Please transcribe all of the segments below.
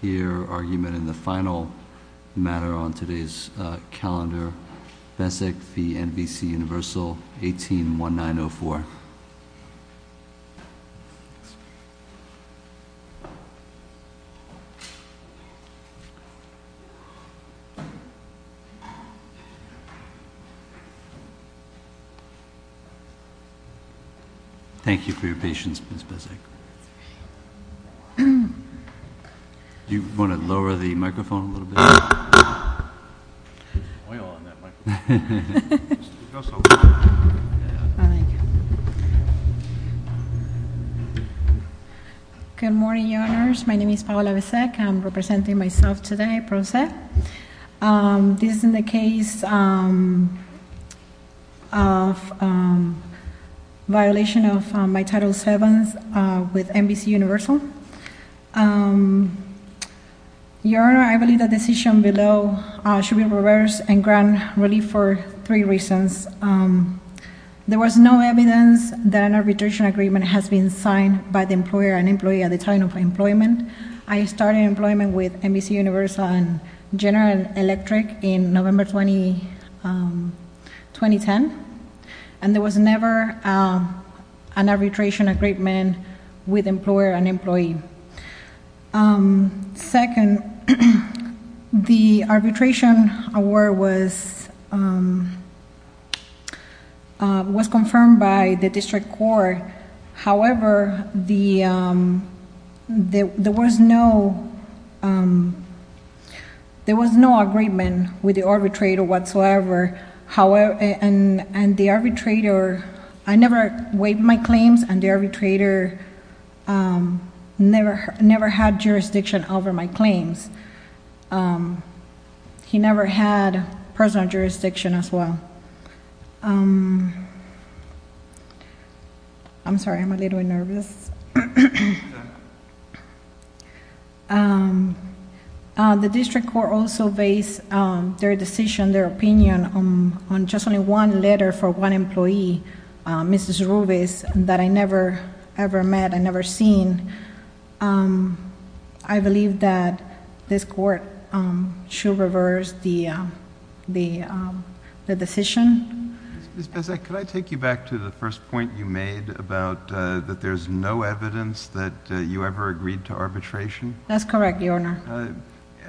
hear argument in the final matter on today's calendar. Bezek v. NBC Universal, 18-1904. Thank you for your patience Ms. Bezek. Do you want to lower the microphone a little bit? Good morning, Your Honors. My name is Paola Bezek. I'm representing myself today, Pro Se. This is in the case of violation of my Title VII with NBC Universal. Your Honor, I believe the decision below should be reversed and grant relief for three reasons. There was no evidence that an arbitration agreement has been signed by the employer and employee at the time of employment. I started employment with NBC Universal and General Electric in November 2010, and there was never an arbitration agreement with employer and employee. Second, the arbitration award was confirmed by the district court. However, there was no agreement with the arbitrator whatsoever. I never waived my claims and the arbitrator never had jurisdiction over my claims. He never had personal jurisdiction as well. I'm sorry, I'm a little nervous. The district court also based their decision, their opinion on just only one letter from one employee, Mrs. Rubis, that I never met and never seen. I believe that this court should reverse the decision. Ms. Bezek, could I take you back to the first point you made about that there's no evidence that you ever agreed to arbitration? That's correct, Your Honor.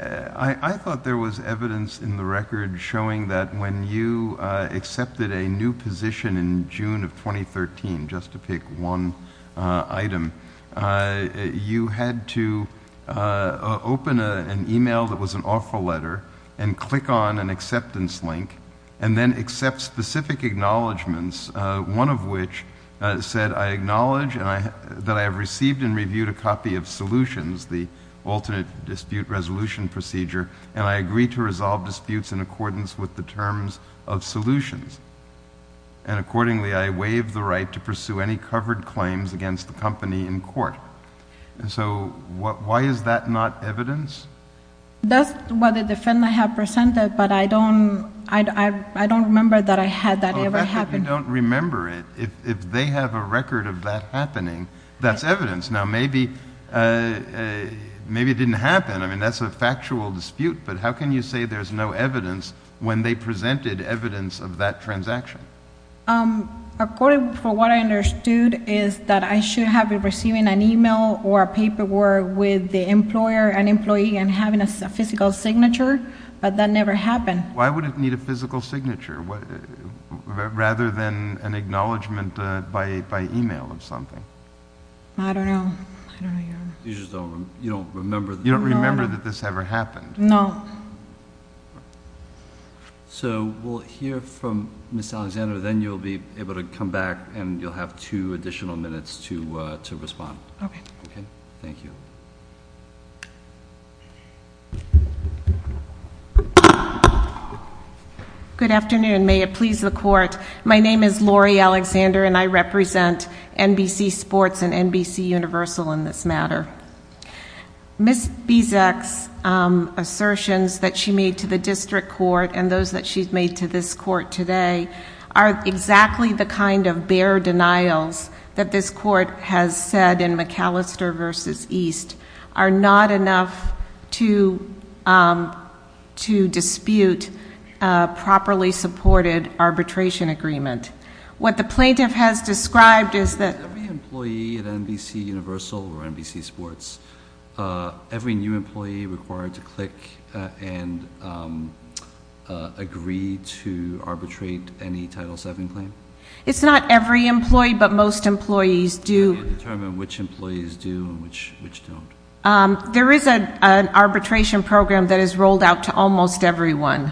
I thought there was evidence in the record showing that when you accepted a new position in June of 2013, just to pick one item, you had to open an email that was an offer letter and click on an acceptance link, and then accept specific acknowledgments, one of which said, I acknowledge that I have received and reviewed a copy of Solutions, the alternate dispute resolution procedure, and I agree to resolve disputes in accordance with the terms of Solutions. And accordingly, I waive the right to pursue any covered claims against the company in court. So why is that not evidence? That's what the defendant had presented, but I don't remember that I had that ever happen. Oh, that's because you don't remember it. If they have a record of that happening, that's evidence. Now, maybe it didn't happen. I mean, that's a factual dispute, but how can you say there's no evidence when they presented evidence of that transaction? According to what I understood is that I should have been receiving an email or a paperwork with the employer, an employee, and having a physical signature, but that never happened. Why would it need a physical signature, rather than an acknowledgment by email or something? I don't know. You just don't remember. You don't remember that this ever happened. No. So we'll hear from Ms. Alexander, then you'll be able to come back, and you'll have two additional minutes to respond. Okay. Thank you. Good afternoon. May it please the Court. My name is Lori Alexander, and I represent NBC Sports and NBCUniversal in this matter. Ms. Bieseck's assertions that she made to the district court and those that she's made to this court today are exactly the kind of bare denials that this court has said in McAllister v. East are not enough to dispute a properly supported arbitration agreement. What the plaintiff has described is that… Is every employee at NBCUniversal or NBC Sports, every new employee required to click and agree to arbitrate any Title VII claim? It's not every employee, but most employees do. Can you determine which employees do and which don't? There is an arbitration program that is rolled out to almost everyone.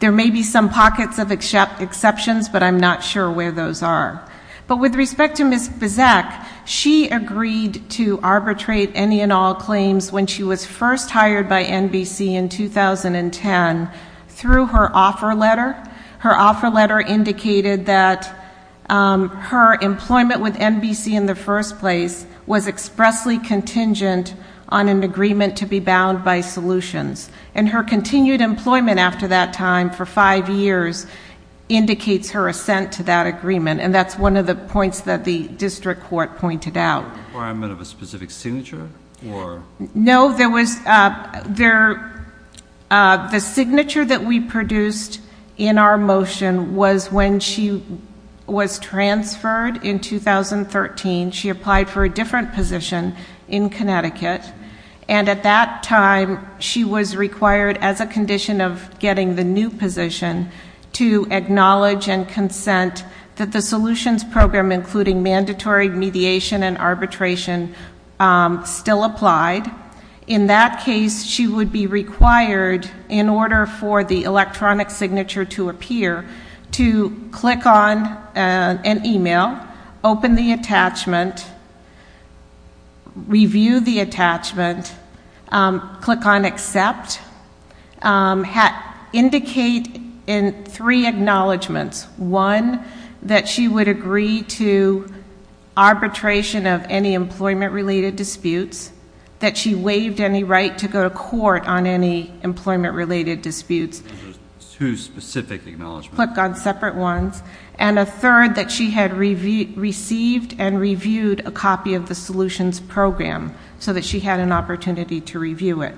There may be some pockets of exceptions, but I'm not sure where those are. But with respect to Ms. Bieseck, she agreed to arbitrate any and all claims when she was first hired by NBC in 2010 through her offer letter. Her offer letter indicated that her employment with NBC in the first place was expressly contingent on an agreement to be bound by solutions. And her continued employment after that time for five years indicates her assent to that agreement, and that's one of the points that the district court pointed out. Was there a requirement of a specific signature? No, there was… The signature that we produced in our motion was when she was transferred in 2013. She applied for a different position in Connecticut. And at that time, she was required, as a condition of getting the new position, to acknowledge and consent that the solutions program, including mandatory mediation and arbitration, still applied. In that case, she would be required, in order for the electronic signature to appear, to click on an email, open the attachment, review the attachment, click on accept, indicate in three acknowledgments. One, that she would agree to arbitration of any employment-related disputes, that she waived any right to go to court on any employment-related disputes. Those are two specific acknowledgments. Click on separate ones. And a third, that she had received and reviewed a copy of the solutions program so that she had an opportunity to review it.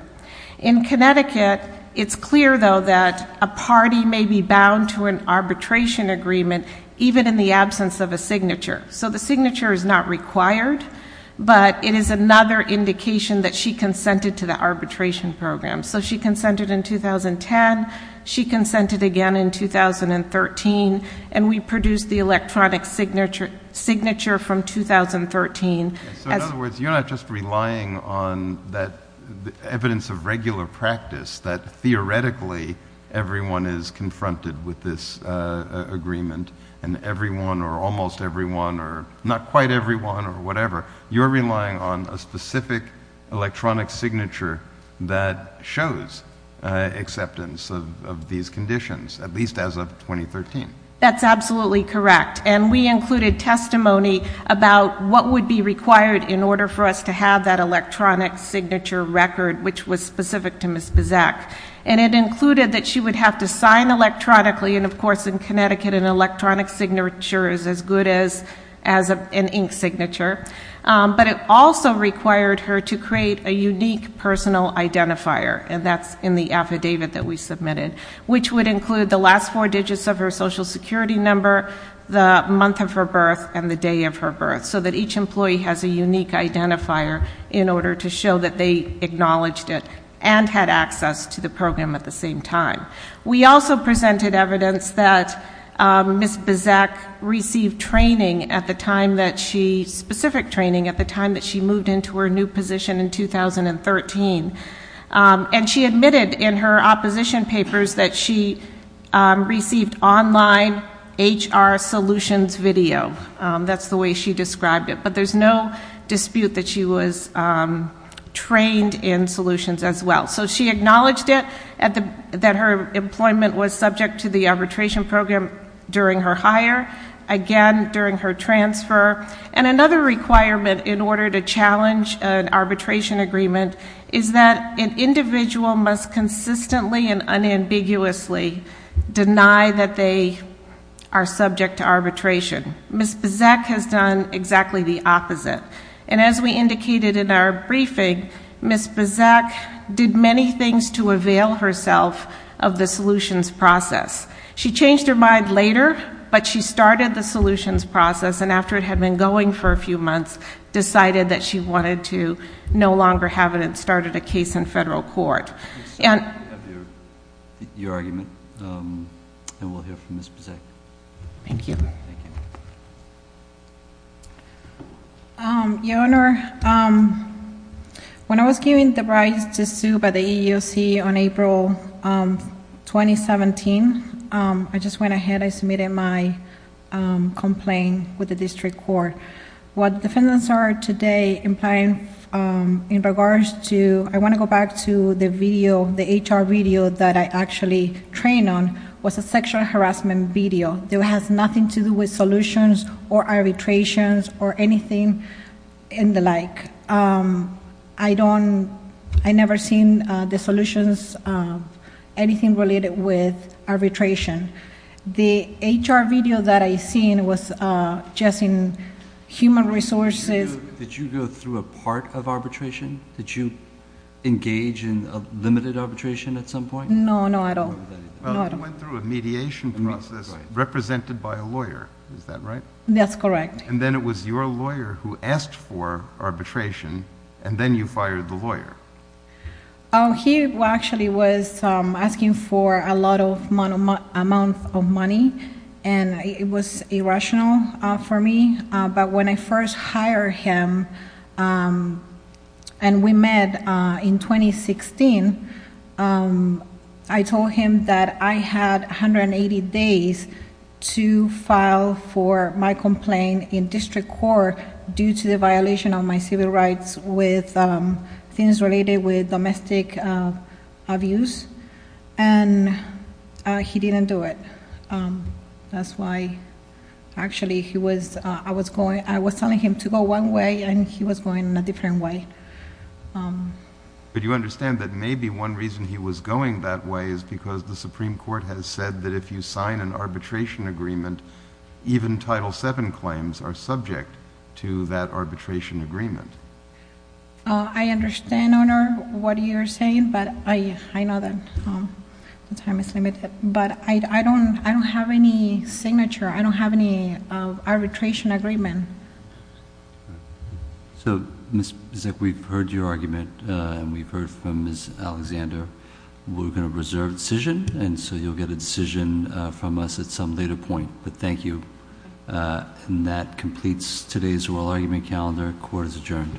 In Connecticut, it's clear, though, that a party may be bound to an arbitration agreement, even in the absence of a signature. So the signature is not required, but it is another indication that she consented to the arbitration program. So she consented in 2010. She consented again in 2013. And we produced the electronic signature from 2013. So in other words, you're not just relying on evidence of regular practice, that theoretically everyone is confronted with this agreement, and everyone, or almost everyone, or not quite everyone, or whatever, you're relying on a specific electronic signature that shows acceptance of these conditions, at least as of 2013. That's absolutely correct. And we included testimony about what would be required in order for us to have that electronic signature record, which was specific to Ms. Bazak. And it included that she would have to sign electronically, and of course, in Connecticut, an electronic signature is as good as an ink signature. But it also required her to create a unique personal identifier, and that's in the affidavit that we submitted, which would include the last four digits of her Social Security number, the month of her birth, and the day of her birth, so that each employee has a unique identifier in order to show that they acknowledged it and had access to the program at the same time. We also presented evidence that Ms. Bazak received training at the time that she, specific training at the time that she moved into her new position in 2013. And she admitted in her opposition papers that she received online HR solutions video. That's the way she described it. But there's no dispute that she was trained in solutions as well. So she acknowledged it, that her employment was subject to the arbitration program during her hire, again, during her transfer. And another requirement in order to challenge an arbitration agreement is that an individual must consistently and unambiguously deny that they are subject to arbitration. Ms. Bazak has done exactly the opposite. And as we indicated in our briefing, Ms. Bazak did many things to avail herself of the solutions process. She changed her mind later, but she started the solutions process. And after it had been going for a few months, decided that she wanted to no longer have it and started a case in federal court. We have your argument, and we'll hear from Ms. Bazak. Thank you. Your Honor, when I was given the right to sue by the EEOC on April 2017, I just went ahead and submitted my complaint with the district court. What defendants are today implying in regards to... I want to go back to the HR video that I actually trained on, was a sexual harassment video. It has nothing to do with solutions or arbitrations or anything in the like. I never seen the solutions, anything related with arbitration. The HR video that I seen was just in human resources. Did you go through a part of arbitration? Did you engage in a limited arbitration at some point? No, no, not at all. You went through a mediation process represented by a lawyer. Is that right? That's correct. Then it was your lawyer who asked for arbitration, and then you fired the lawyer. He actually was asking for a lot of amount of money, and it was irrational for me. When I first hired him, and we met in 2016, I told him that I had 180 days to file for my complaint in district court due to the violation of my civil rights with things related with domestic abuse. He didn't do it. That's why, actually, I was telling him to go one way, and he was going a different way. But you understand that maybe one reason he was going that way is because the Supreme Court has said that if you sign an arbitration agreement, even Title VII claims are subject to that arbitration agreement. I understand, Your Honor, what you're saying, but I know that the time is limited. But I don't have any signature. I don't have any arbitration agreement. So, Ms. Bizek, we've heard your argument, and we've heard from Ms. Alexander. We're going to reserve the decision, and so you'll get a decision from us at some later point. But thank you. And that completes today's oral argument calendar. Court is adjourned.